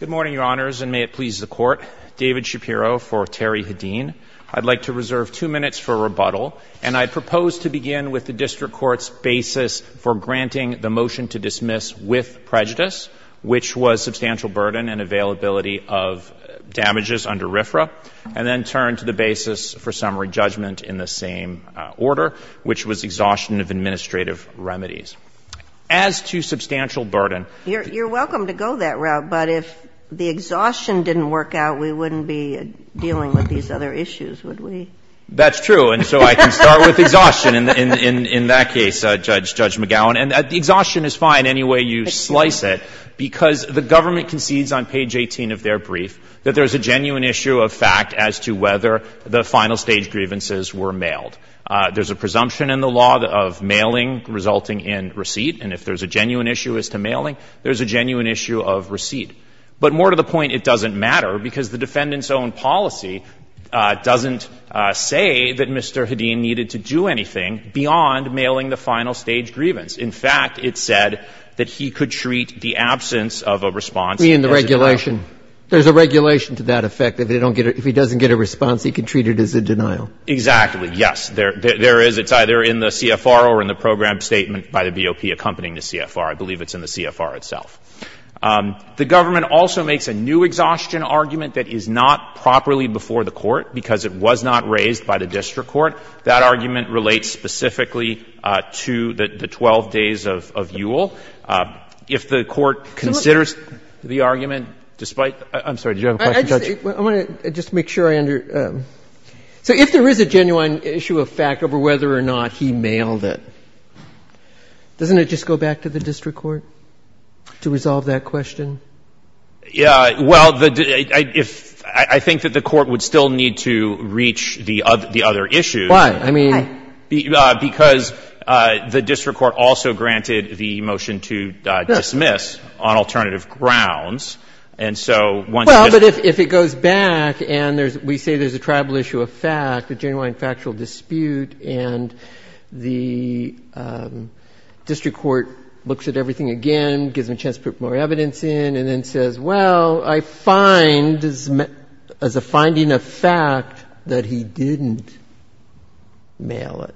Good morning, Your Honors, and may it please the Court. David Shapiro for Terry Hedin. I'd like to reserve two minutes for rebuttal, and I propose to begin with the District Court's basis for granting the motion to dismiss with prejudice, which was substantial burden and availability of damages under RFRA, and then turn to the basis for summary judgment in the same order, which was exhaustion of administrative remedies. As to substantial burden You're welcome to go that route, but if the exhaustion didn't work out, we wouldn't be dealing with these other issues, would we? That's true, and so I can start with exhaustion in that case, Judge McGowan. And exhaustion is fine any way you slice it, because the government concedes on page 18 of their brief that there's a genuine issue of fact as to whether the final stage grievances were mailed. There's a presumption in the law of mailing resulting in receipt, and if there's a genuine issue as to mailing, there's a genuine issue of receipt. But more to the point, it doesn't matter, because the defendant's own policy doesn't say that Mr. Hedin needed to do anything beyond mailing the final stage grievance. In fact, it said that he could treat the absence of a response as a bailout. Exhaustion. There's a regulation to that effect, that if he doesn't get a response, he can treat it as a denial. Exactly. Yes. There is. It's either in the CFR or in the program statement by the BOP accompanying the CFR. I believe it's in the CFR itself. The government also makes a new exhaustion argument that is not properly before the Court, because it was not raised by the district court. That argument relates specifically to the 12 days of EWL. If the Court considers the argument that the defendant's own policy is not properly before the Court, the court will not be able to make a decision on the basis of the 12 days of EWL. Despite the other questions, I'm sorry. Did you have a question, Judge? I want to just make sure I understand. So if there is a genuine issue of fact over whether or not he mailed it, doesn't it just go back to the district court to resolve that question? Yeah. Well, the — I think that the Court would still need to reach the other issue. Why? I mean — Because the district court also granted the motion to dismiss on alternative grounds. And so once again — Well, but if it goes back and we say there's a tribal issue of fact, a genuine factual dispute, and the district court looks at everything again, gives them a chance to put more evidence in, and then says, well, I find, as a finding of fact, that he didn't mail it,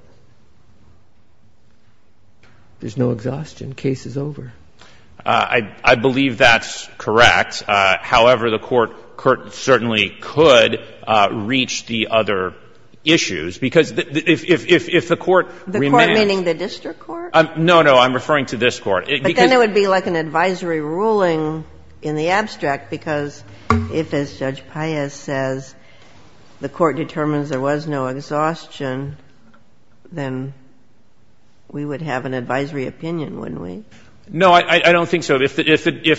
there's no exhaustion. The case is over. I believe that's correct. However, the Court certainly could reach the other issues, because if the Court — The Court meaning the district court? No, no. I'm referring to this Court. But then it would be like an advisory hearing. Well, it's an advisory ruling in the abstract, because if, as Judge Paez says, the court determines there was no exhaustion, then we would have an advisory opinion, wouldn't we? No, I don't think so. If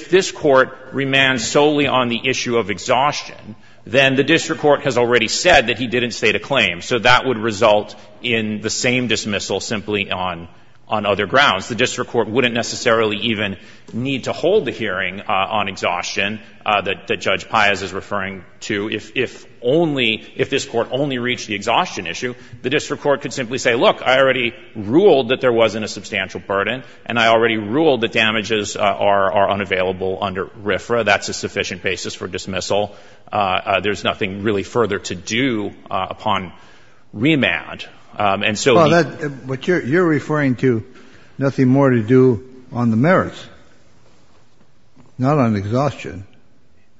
this Court remands solely on the issue of exhaustion, then the district court has already said that he didn't state a claim. So that would result in the same dismissal simply on other grounds. The district court wouldn't necessarily even need to hold the hearing on exhaustion that Judge Paez is referring to. If only — if this Court only reached the exhaustion issue, the district court could simply say, look, I already ruled that there wasn't a substantial burden, and I already ruled that damages are unavailable under RFRA. That's a sufficient basis for dismissal. There's nothing really further to do upon remand. And so — But you're referring to nothing more to do on the merits, not on exhaustion,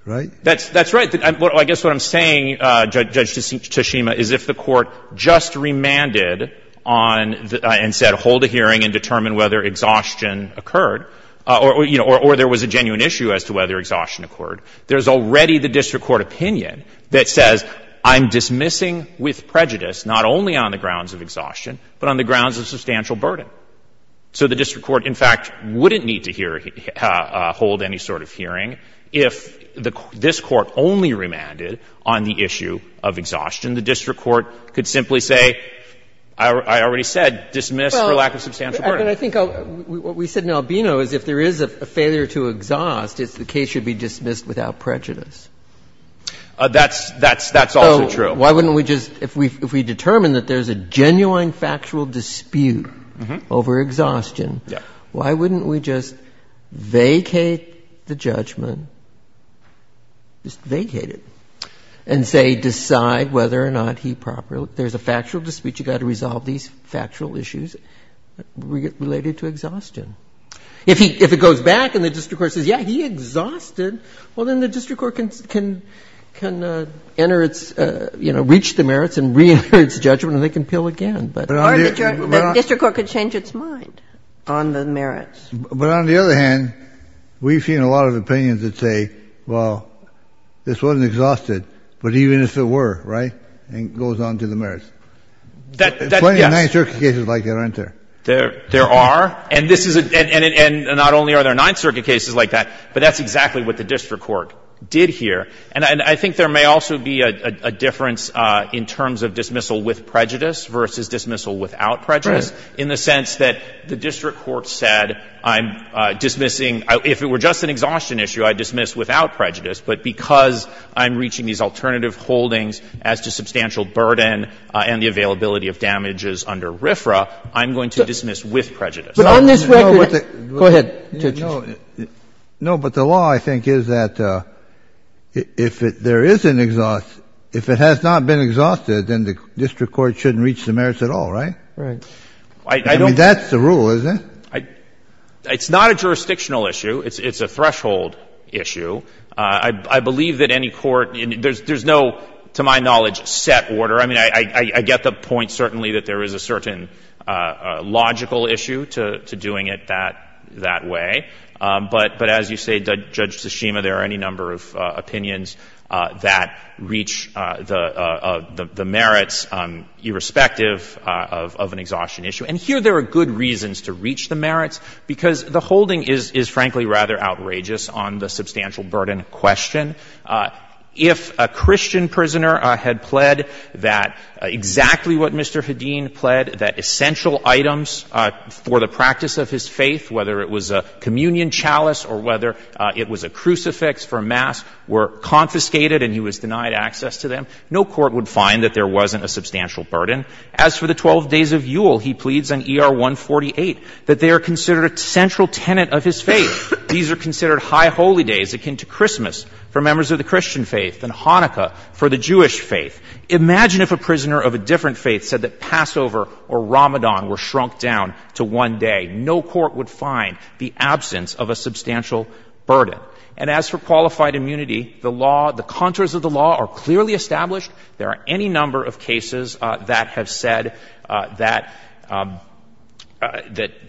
right? That's right. I guess what I'm saying, Judge Toshima, is if the court just remanded on and said hold a hearing and determine whether exhaustion occurred, or, you know, or there was a genuine issue as to whether exhaustion occurred, there's already the district court opinion that says I'm dismissing with prejudice, not only on the grounds of exhaustion, but on the grounds of substantial burden. So the district court, in fact, wouldn't need to hear — hold any sort of hearing if this Court only remanded on the issue of exhaustion. The district court could simply say, I already said, dismiss for lack of substantial burden. Well, I think what we said in Albino is if there is a failure to exhaust, the case should be dismissed without prejudice. That's — that's also true. So why wouldn't we just — if we determine that there's a genuine factual dispute over exhaustion, why wouldn't we just vacate the judgment, just vacate it, and say decide whether or not he properly — there's a factual dispute. You've got to resolve these factual issues related to exhaustion. If he — if it goes back and the district court says, yeah, he exhausted, well, then the district court can — can enter its — you know, reach the merits and reenter its judgment, and they can appeal again. But — Or the district court could change its mind on the merits. But on the other hand, we've seen a lot of opinions that say, well, this wasn't exhausted, but even if it were, right, it goes on to the merits. That's — yes. There's plenty of Ninth Circuit cases like that, aren't there? There are. And this is a — and not only are there Ninth Circuit cases like that, but that's exactly what the district court did here. And I think there may also be a difference in terms of dismissal with prejudice versus dismissal without prejudice, in the sense that the district court said, I'm dismissing — if it were just an exhaustion issue, I'd dismiss without prejudice, but because I'm reaching these alternative holdings as to substantial burden and the availability of damages under RFRA, I'm going to dismiss with prejudice. But on this record — No, but the — Go ahead, Justice. No, but the law, I think, is that if there is an — if it has not been exhausted, then the district court shouldn't reach the merits at all, right? Right. I don't — I mean, that's the rule, isn't it? It's not a jurisdictional issue. It's a threshold issue. I believe that any court — there's no, to my knowledge, set order. I mean, I get the point, certainly, that there is a certain logical issue to doing it that way. But as you say, Judge Tsushima, there are any number of opinions that reach the merits, irrespective of an exhaustion issue. And here there are good reasons to reach the merits, because the holding is, frankly, rather outrageous on the substantial burden question. If a Christian prisoner had pled that exactly what Mr. Hedin pled, that essential items for the practice of his faith, whether it was a communion chalice or whether it was a crucifix for mass, were confiscated and he was denied access to them, no court would find that there wasn't a substantial burden. As for the 12 days of Yule, he pleads on ER 148 that they are considered a central tenet of his faith. These are considered high holy days akin to Christmas for members of the Christian faith and Hanukkah for the Jewish faith. Imagine if a prisoner of a different faith said that Passover or Ramadan were shrunk down to one day. No court would find the absence of a substantial burden. And as for qualified immunity, the law, the contours of the law are clearly established. There are any number of cases that have said that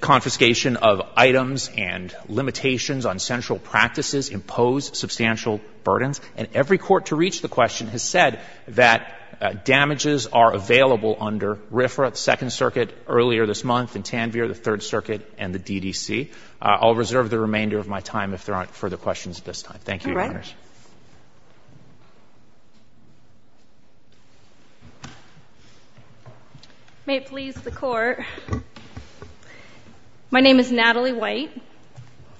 confiscation of items and limitations on central practices impose substantial burdens. And every court to reach the question has said that damages are available under RFRA, the Second Circuit, earlier this month, and Tanvir, the Third Circuit, and the DDC. I'll reserve the remainder of my time if there aren't further questions at this time. Thank you, Your Honors. NATALIE WHITE. May it please the Court, my name is Natalie White.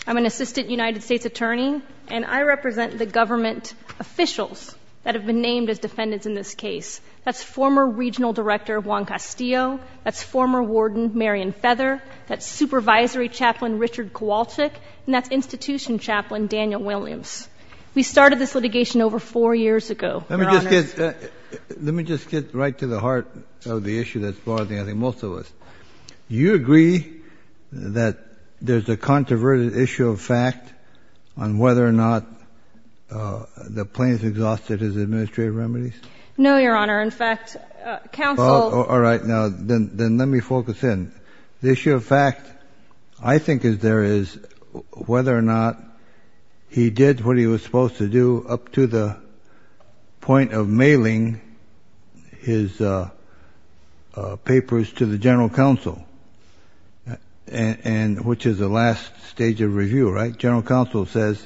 I'm an Assistant United States Attorney, and I represent the government officials that have been named as defendants in this case. That's former Regional Director Juan Castillo, that's former Warden Marion Feather, that's Supervisory Chaplain Richard Kowalczyk, and that's the Chief Justice of the United States. We started this litigation over four years ago, JUSTICE KENNEDY. Let me just get right to the heart of the issue that's bothering, I think, most of us. Do you agree that there's a controverted issue of fact on whether or not the plaintiff exhausted his administrative remedies? NATALIE WHITE. No, Your Honor. In fact, counsel- JUSTICE KENNEDY. All right. Now, then let me focus in. The issue of fact I think is to do up to the point of mailing his papers to the General Counsel, which is the last stage of review, right? General Counsel says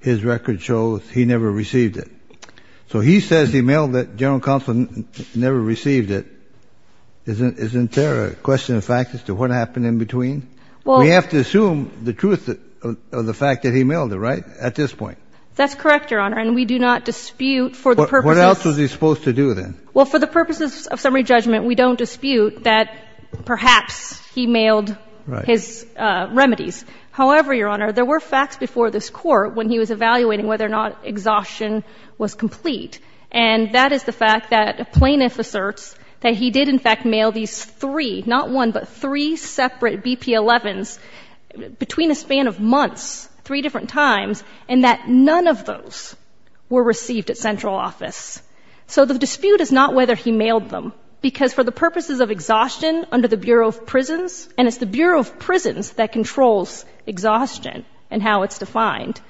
his record shows he never received it. So he says he mailed it. General Counsel never received it. Isn't there a question of fact as to what happened in between? We have to assume the truth of the fact that he mailed it, right? At this point. NATALIE WHITE. That's correct, Your Honor. And we do not dispute for the purposes- JUSTICE KENNEDY. What else was he supposed to do, then? NATALIE WHITE. Well, for the purposes of summary judgment, we don't dispute that perhaps he mailed his remedies. However, Your Honor, there were facts before this Court when he was evaluating whether or not exhaustion was complete. And that is the fact that a plaintiff asserts that he did, in fact, mail these three, not one, but three separate BP-11s between a span of months, three different times, and that none of those were received at central office. So the dispute is not whether he mailed them, because for the purposes of exhaustion under the Bureau of Prisons, and it's the Bureau of Prisons that controls exhaustion and how it's defined,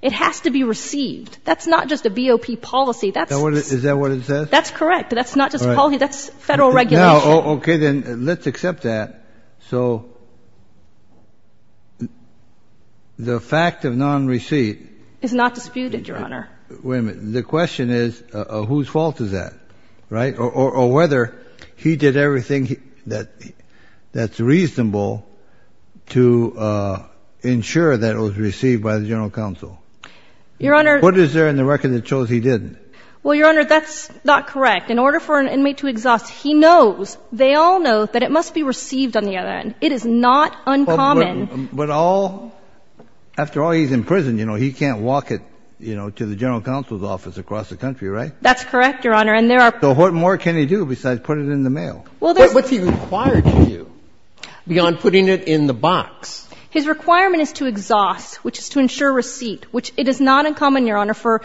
it has to be received. That's not just a BOP policy. That's- JUSTICE KENNEDY. Is that what it says? NATALIE WHITE. That's correct. That's not just a policy. That's Federal regulation. JUSTICE KENNEDY. Okay. Then let's accept that. So the fact of non-receipt- NATALIE WHITE. Is not disputed, Your Honor. JUSTICE KENNEDY. Wait a minute. The question is, whose fault is that, right, or whether he did everything that's reasonable to ensure that it was received by the General Counsel? NATALIE WHITE. Your Honor- JUSTICE KENNEDY. What is there in the record that shows he didn't? NATALIE WHITE. Well, Your Honor, that's not correct. In order for an inmate to exhaust, he knows, they all know, that it must be received on the other end. It is not uncommon- JUSTICE KENNEDY. But all, after all, he's in prison. You know, he can't walk it, you know, to the General Counsel's office across the country, right? NATALIE WHITE. That's correct, Your Honor. And there are- JUSTICE KENNEDY. So what more can he do besides put it in the mail? NATALIE WHITE. Well, there's- JUSTICE KENNEDY. What's he required to do beyond putting it in the box? NATALIE WHITE. His requirement is to exhaust, which is to ensure receipt, which it is not uncommon, Your Honor, for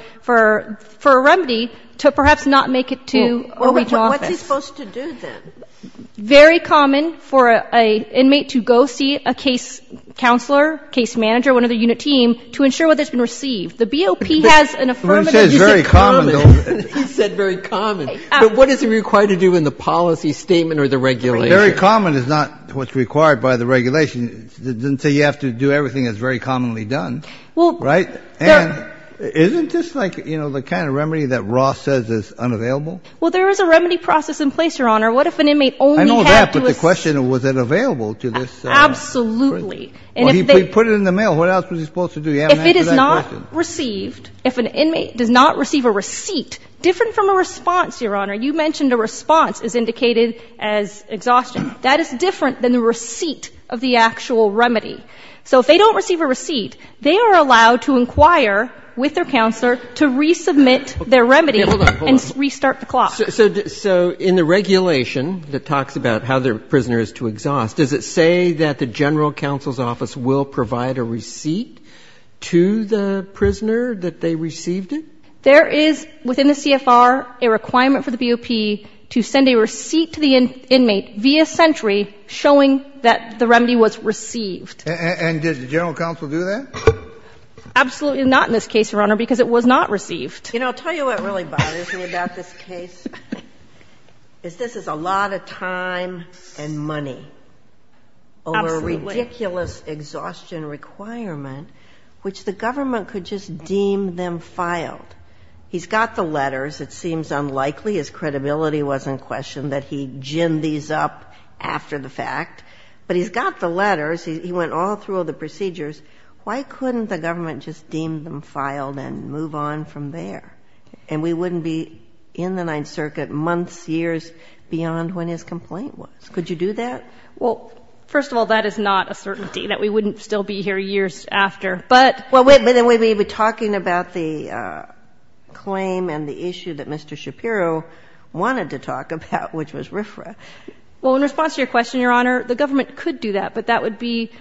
a remedy to perhaps not make it to a Reach office. JUSTICE SOTOMAYOR. What's he supposed to do, then? NATALIE WHITE. Very common for an inmate to go see a case counselor, case manager, one of the unit team, to ensure whether it's been received. The BOP has an affirmative- JUSTICE KENNEDY. He says very common, though. JUSTICE SOTOMAYOR. He said very common. But what is he required to do in the policy statement or the regulation? JUSTICE KENNEDY. Very common is not what's required by the regulation. It doesn't say you have to do everything that's very commonly done, right? NATALIE WHITE. Well, there- JUSTICE KENNEDY. And isn't this like, you know, the kind of remedy that Ross says is unavailable? NATALIE WHITE. Well, there is a remedy process in place, Your Honor. What if an inmate only JUSTICE KENNEDY. I know that, but the question, was it available to this person? NATALIE WHITE. Absolutely. JUSTICE KENNEDY. Well, he put it in the mail. What else was he supposed to do? You haven't answered that question. NATALIE WHITE. If it is not received, if an inmate does not receive a receipt, different from a response, Your Honor. You mentioned a response is indicated as exhaustion. That is different than the receipt of the actual remedy. So if they don't receive a receipt, they are allowed to inquire with their counselor to resubmit their remedy and restart the clock. JUSTICE KENNEDY. So in the regulation that talks about how the prisoner is to exhaust, does it say that the general counsel's office will provide a receipt to the prisoner that they received it? NATALIE WHITE. There is, within the CFR, a requirement for the BOP to send a receipt to the inmate via sentry showing that the remedy was received. JUSTICE KENNEDY. And did the general counsel do that? NATALIE WHITE. Absolutely not in this case, Your Honor, because it was not received. SOTOMAYOR You know, I'll tell you what really bothers me about this case, is this is a lot of time and money over a ridiculous exhaustion requirement, which the government could just deem them filed. He's got the letters. It seems unlikely, his credibility was in question, that he ginned these up after the fact. But he's got the letters. He went all through the procedures. Why couldn't the government just deem them filed and move on from there? And we wouldn't be in the Ninth Circuit months, years beyond when his complaint was. Could you do that? NATALIE WHITE. Well, first of all, that is not a certainty, that we wouldn't still be here years after. But — SOTOMAYOR Well, then we'd be talking about the claim and the issue that Mr. Shapiro wanted to talk about, which was RFRA. NATALIE WHITE. Well, in response to your question, Your Honor, the government could do that, but that would be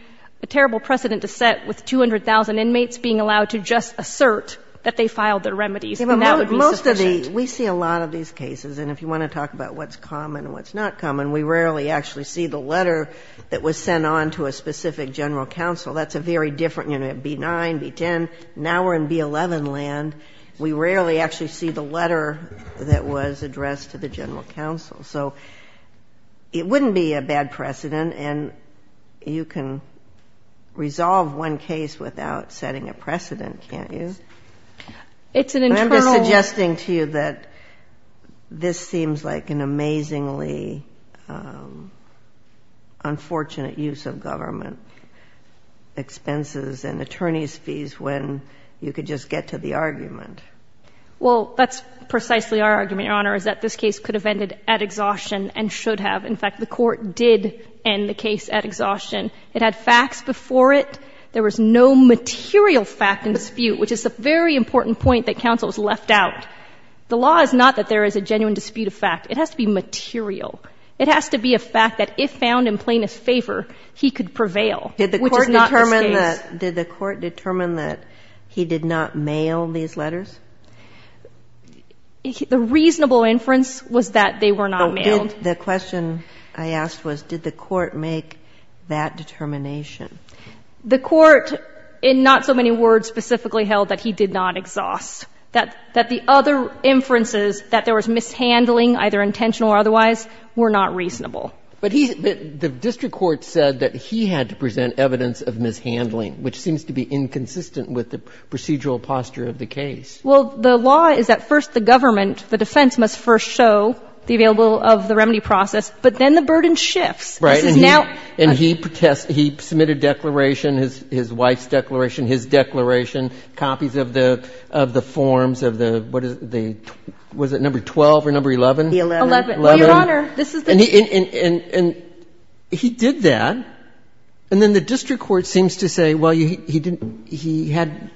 a terrible precedent to set, with 200,000 inmates being allowed to just assert that they filed their remedies, and that would be sufficient. SOTOMAYOR We see a lot of these cases, and if you want to talk about what's common and what's not common, we rarely actually see the letter that was sent on to a specific general counsel. That's a very different, you know, B-9, B-10. Now we're in B-11 land. We rarely actually see the letter that was addressed to the general counsel. So it wouldn't be a bad precedent, and you can resolve one case without setting a precedent, can't you? NATALIE WHITE. It's an internal — SOTOMAYOR I'm just suggesting to you that this seems like an amazingly unfortunate use of government expenses and attorneys' fees when you could just get to the argument. NATALIE WHITE. Well, that's precisely our argument, Your Honor, is that this case could have ended at exhaustion and should have. In fact, the Court did end the case at exhaustion. It had facts before it. There was no material fact in dispute, which is a very important point that counsel has left out. The law is not that there is a genuine dispute of fact. It has to be material. It has to be a fact that if found in plaintiff's favor, he could prevail, which is not the case. SOTOMAYOR Did the Court determine that he did not mail these letters? NATALIE WHITE. The reasonable inference was that they were not mailed. SOTOMAYOR The question I asked was, did the Court make that determination? NATALIE WHITE. The Court, in not so many words, specifically held that he did not exhaust, that the other inferences, that there was mishandling, either intentional or otherwise, were not reasonable. SOTOMAYOR But the district court said that he had to present evidence of mishandling, which seems to be inconsistent with the procedural posture of the case. NATALIE WHITE. Well, the law is that first the government, the defense, must first show the availability of the remedy process. But then the burden shifts. NATALIE WHITE. This is now the case. SOTOMAYOR And he protested. He submitted a declaration, his wife's declaration, his declaration, copies of the forms of the, what is it, number 12 or number 11? NATALIE WHITE. 11. SOTOMAYOR 11. NATALIE WHITE. Your Honor, this is the case. SOTOMAYOR And he did that. And then the district court seems to say, well, he didn't he had,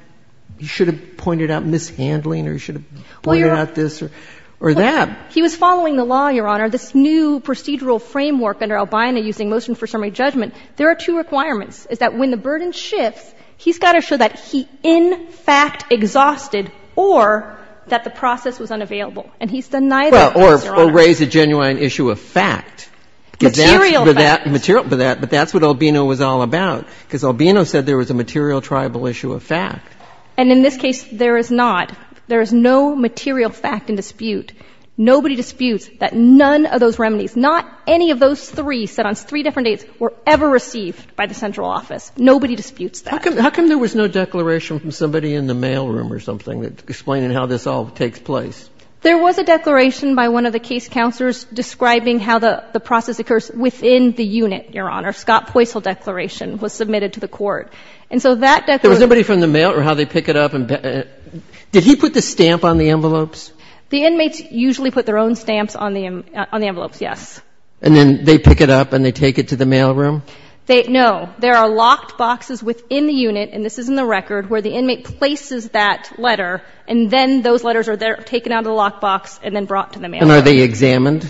he should have pointed out mishandling or he should have pointed out this NATALIE WHITE. He was following the law, Your Honor, this new procedural framework under Albina using motion for summary judgment. There are two requirements. It's that when the burden shifts, he's got to show that he in fact exhausted or that the process was unavailable. And he's done neither, Your Honor. SOTOMAYOR Well, or raise a genuine issue of fact. NATALIE WHITE. Material fact. SOTOMAYOR Material fact. But that's what Albino was all about. Because Albino said there was a material tribal issue of fact. NATALIE WHITE. And in this case, there is not. There is no material fact in dispute. Nobody disputes that none of those remedies, not any of those three set on three different dates, were ever received by the central office. Nobody disputes that. SOTOMAYOR How come there was no declaration from somebody in the mailroom or something explaining how this all takes place? NATALIE WHITE. There was a declaration by one of the case counselors describing how the process occurs within the unit, Your Honor. Scott Poisil declaration was submitted to the court. And so that declaration SOTOMAYOR There was nobody from the mail or how they pick it up? Did he put the stamp on the envelopes? NATALIE WHITE. The inmates usually put their own stamps on the envelopes, yes. SOTOMAYOR And then they pick it up and they take it to the mailroom? NATALIE WHITE. No. There are locked boxes within the unit, and this is in the record, where the inmate places that letter, and then those letters are taken out of the locked box and then brought to the mailroom. SOTOMAYOR And are they examined?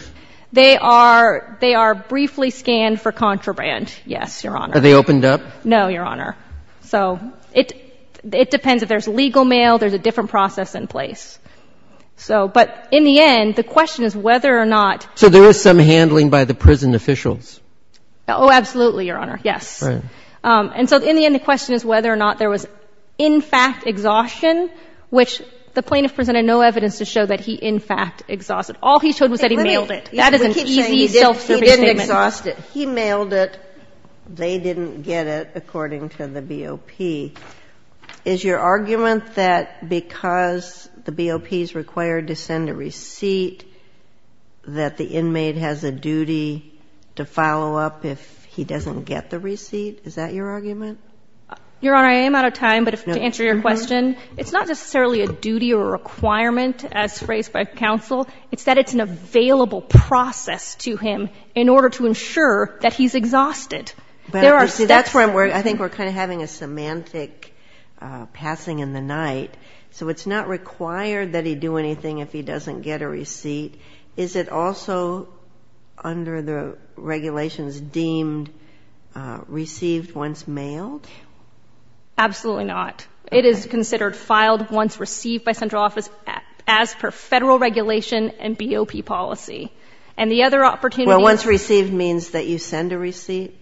NATALIE WHITE. They are briefly scanned for contraband, yes, Your Honor. SOTOMAYOR Are they opened up? NATALIE WHITE. No, Your Honor. So it depends. If there's legal mail, there's a different process in place. So — but in the end, the question is whether or not — SOTOMAYOR So there is some handling by the prison officials? NATALIE WHITE. Oh, absolutely, Your Honor. Yes. SOTOMAYOR Right. NATALIE WHITE. And so in the end, the question is whether or not there was in fact exhaustion, which the plaintiff presented no evidence to show that he in fact exhausted. All he showed was that he mailed it. SOTOMAYOR He mailed it. NATALIE WHITE. That is an easy self-serving statement. SOTOMAYOR He didn't exhaust it. He mailed it. They didn't get it, according to the BOP. Is your argument that because the BOP is required to send a receipt that the inmate has a duty to follow up if he doesn't get the receipt? Is that your argument? NATALIE WHITE. Your Honor, I am out of time, but to answer your question, it's not necessarily a duty or a requirement as raised by counsel. It's that it's an available process to him in order to ensure that he's exhausted. SOTOMAYOR But, you see, that's where I'm worried. I think we're kind of having a semantic passing in the night. So it's not required that he do anything if he doesn't get a receipt. Is it also under the regulations deemed received once mailed? NATALIE WHITE. Absolutely not. It is considered filed once received by central office as per Federal regulation and BOP policy. And the other opportunity SOTOMAYOR Well, once received means that you send a receipt? NATALIE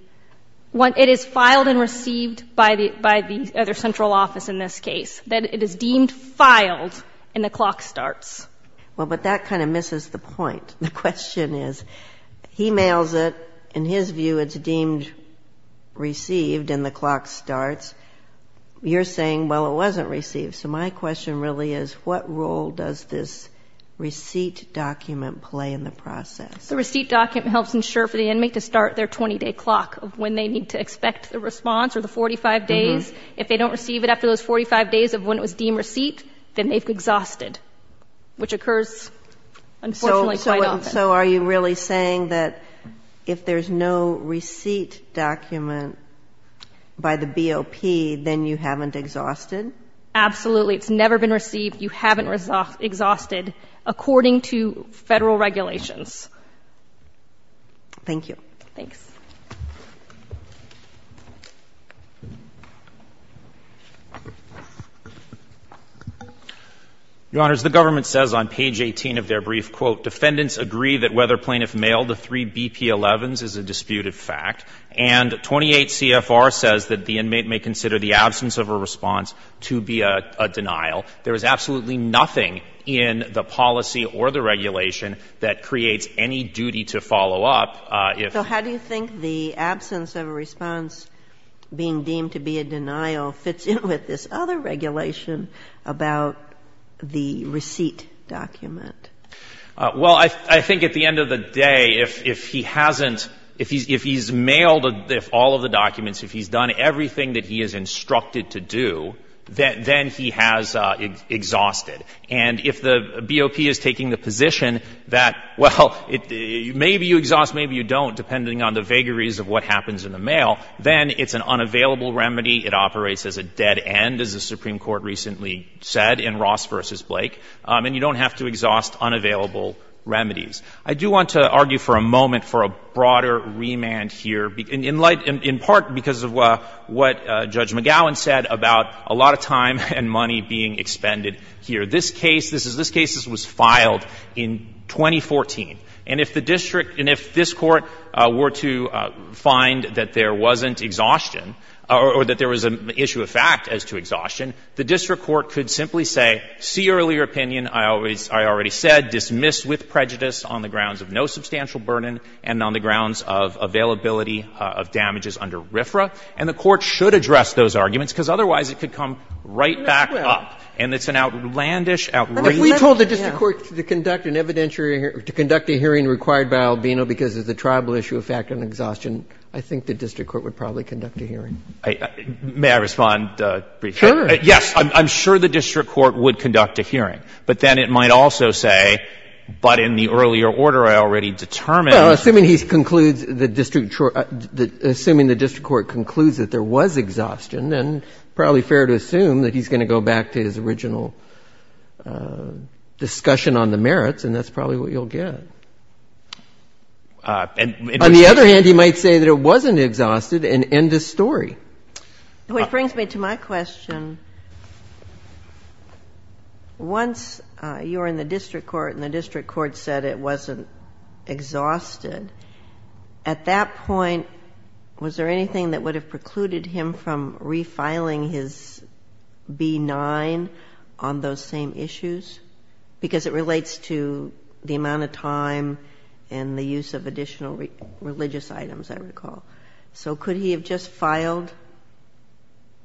WHITE. It is filed and received by the other central office in this case, that it is deemed filed and the clock starts. SOTOMAYOR Well, but that kind of misses the point. The question is, he mails it. In his view, it's deemed received and the clock starts. You're saying, well, it wasn't received. So my question really is, what role does this receipt document play in the process? NATALIE WHITE. The receipt document helps ensure for the inmate to start their 20-day clock of when they need to expect the response or the 45 days. If they don't receive it after those 45 days of when it was deemed receipt, then they've exhausted, which occurs, unfortunately, quite often. SOTOMAYOR So are you really saying that if there's no receipt document by the SOTOMAYOR Absolutely. It's never been received. You haven't exhausted, according to Federal regulations. NATALIE WHITE. Thank you. CHIEF JUSTICE BREYER. Your Honors, the government says on page 18 of their brief quote, defendants agree that whether plaintiff mailed the three BP-11s is a disputed fact. And 28 CFR says that the inmate may consider the absence of a response to be a denial. There is absolutely nothing in the policy or the regulation that creates any duty to follow up. SOTOMAYOR So how do you think the absence of a response being deemed to be a denial fits in with this other regulation about the receipt document? CHIEF JUSTICE BREYER. Well, I think at the end of the day, if he hasn't, if he's mailed all of the documents, if he's done everything that he is instructed to do, then he has exhausted. And if the BOP is taking the position that, well, maybe you exhaust, maybe you don't, depending on the vagaries of what happens in the mail, then it's an unavailable remedy. It operates as a dead end, as the Supreme Court recently said in Ross v. Blake. And you don't have to exhaust unavailable remedies. I do want to argue for a moment for a broader remand here, in light, in part because of what Judge McGowan said about a lot of time and money being expended here. This case, this is, this case was filed in 2014. And if the district, and if this Court were to find that there wasn't exhaustion or that there was an issue of fact as to the fact of exhaustion, then the district court could simply say, see earlier opinion, I always, I already said, dismiss with prejudice on the grounds of no substantial burden and on the grounds of availability of damages under RFRA. And the court should address those arguments, because otherwise it could come right back up. And it's an outlandish outrage. But if we told the district court to conduct an evidentiary, to conduct a hearing required by Albino because of the tribal issue of fact and exhaustion, I think the district court would probably conduct a hearing. May I respond briefly? Sure. Yes. I'm sure the district court would conduct a hearing. But then it might also say, but in the earlier order I already determined. Well, assuming he concludes the district court, assuming the district court concludes that there was exhaustion, then probably fair to assume that he's going to go back to his original discussion on the merits, and that's probably what you'll get. And it would say. It would say that it wasn't exhausted and end the story. Which brings me to my question. Once you were in the district court and the district court said it wasn't exhausted, at that point, was there anything that would have precluded him from refiling his B-9 on those same issues? Because it relates to the amount of time and the use of additional religious items, I recall. So could he have just filed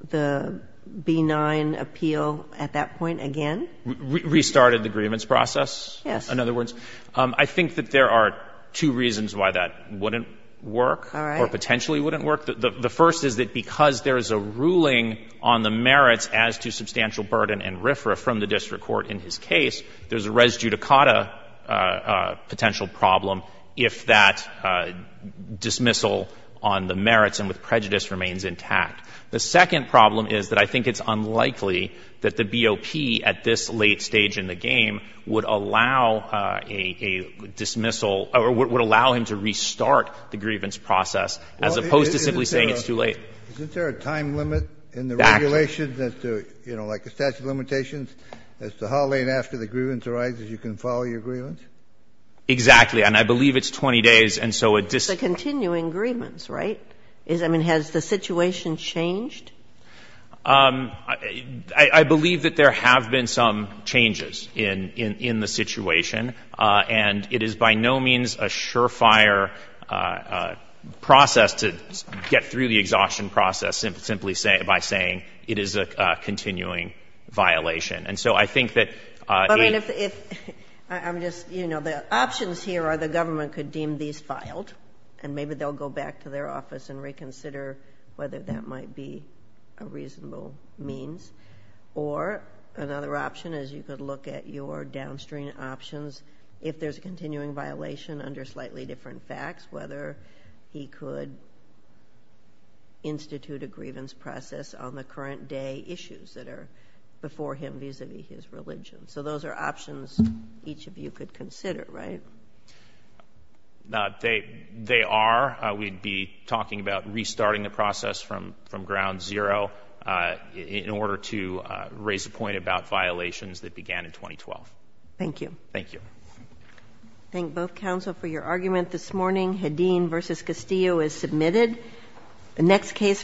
the B-9 appeal at that point again? Restarted the grievance process? Yes. In other words, I think that there are two reasons why that wouldn't work. All right. Or potentially wouldn't work. The first is that because there is a ruling on the merits as to substantial burden and RFRA from the district court in his case, there's a res judicata potential problem if that dismissal on the merits and with prejudice remains intact. The second problem is that I think it's unlikely that the BOP at this late stage in the game would allow a dismissal or would allow him to restart the grievance process, as opposed to simply saying it's too late. Isn't there a time limit in the regulations as to, you know, like the statute of limitations, as to how late after the grievance arises you can file your grievance? Exactly. And I believe it's 20 days. It's a continuing grievance, right? I mean, has the situation changed? I believe that there have been some changes in the situation. And it is by no means a surefire process to get through the exhaustion process simply by saying it is a continuing violation. And so I think that if... I'm just, you know, the options here are the government could deem these filed and maybe they'll go back to their office and reconsider whether that might be a reasonable means. Or another option is you could look at your downstream options if there's a continuing violation under slightly different facts, whether he could institute a grievance process on the current day issues that are before him vis-à-vis his religion. So those are options each of you could consider, right? They are. We'd be talking about restarting the process from ground zero in order to raise a point about violations that began in 2012. Thank you. Thank you. Thank both counsel for your argument this morning. Hadeen v. Castillo is submitted. The next case.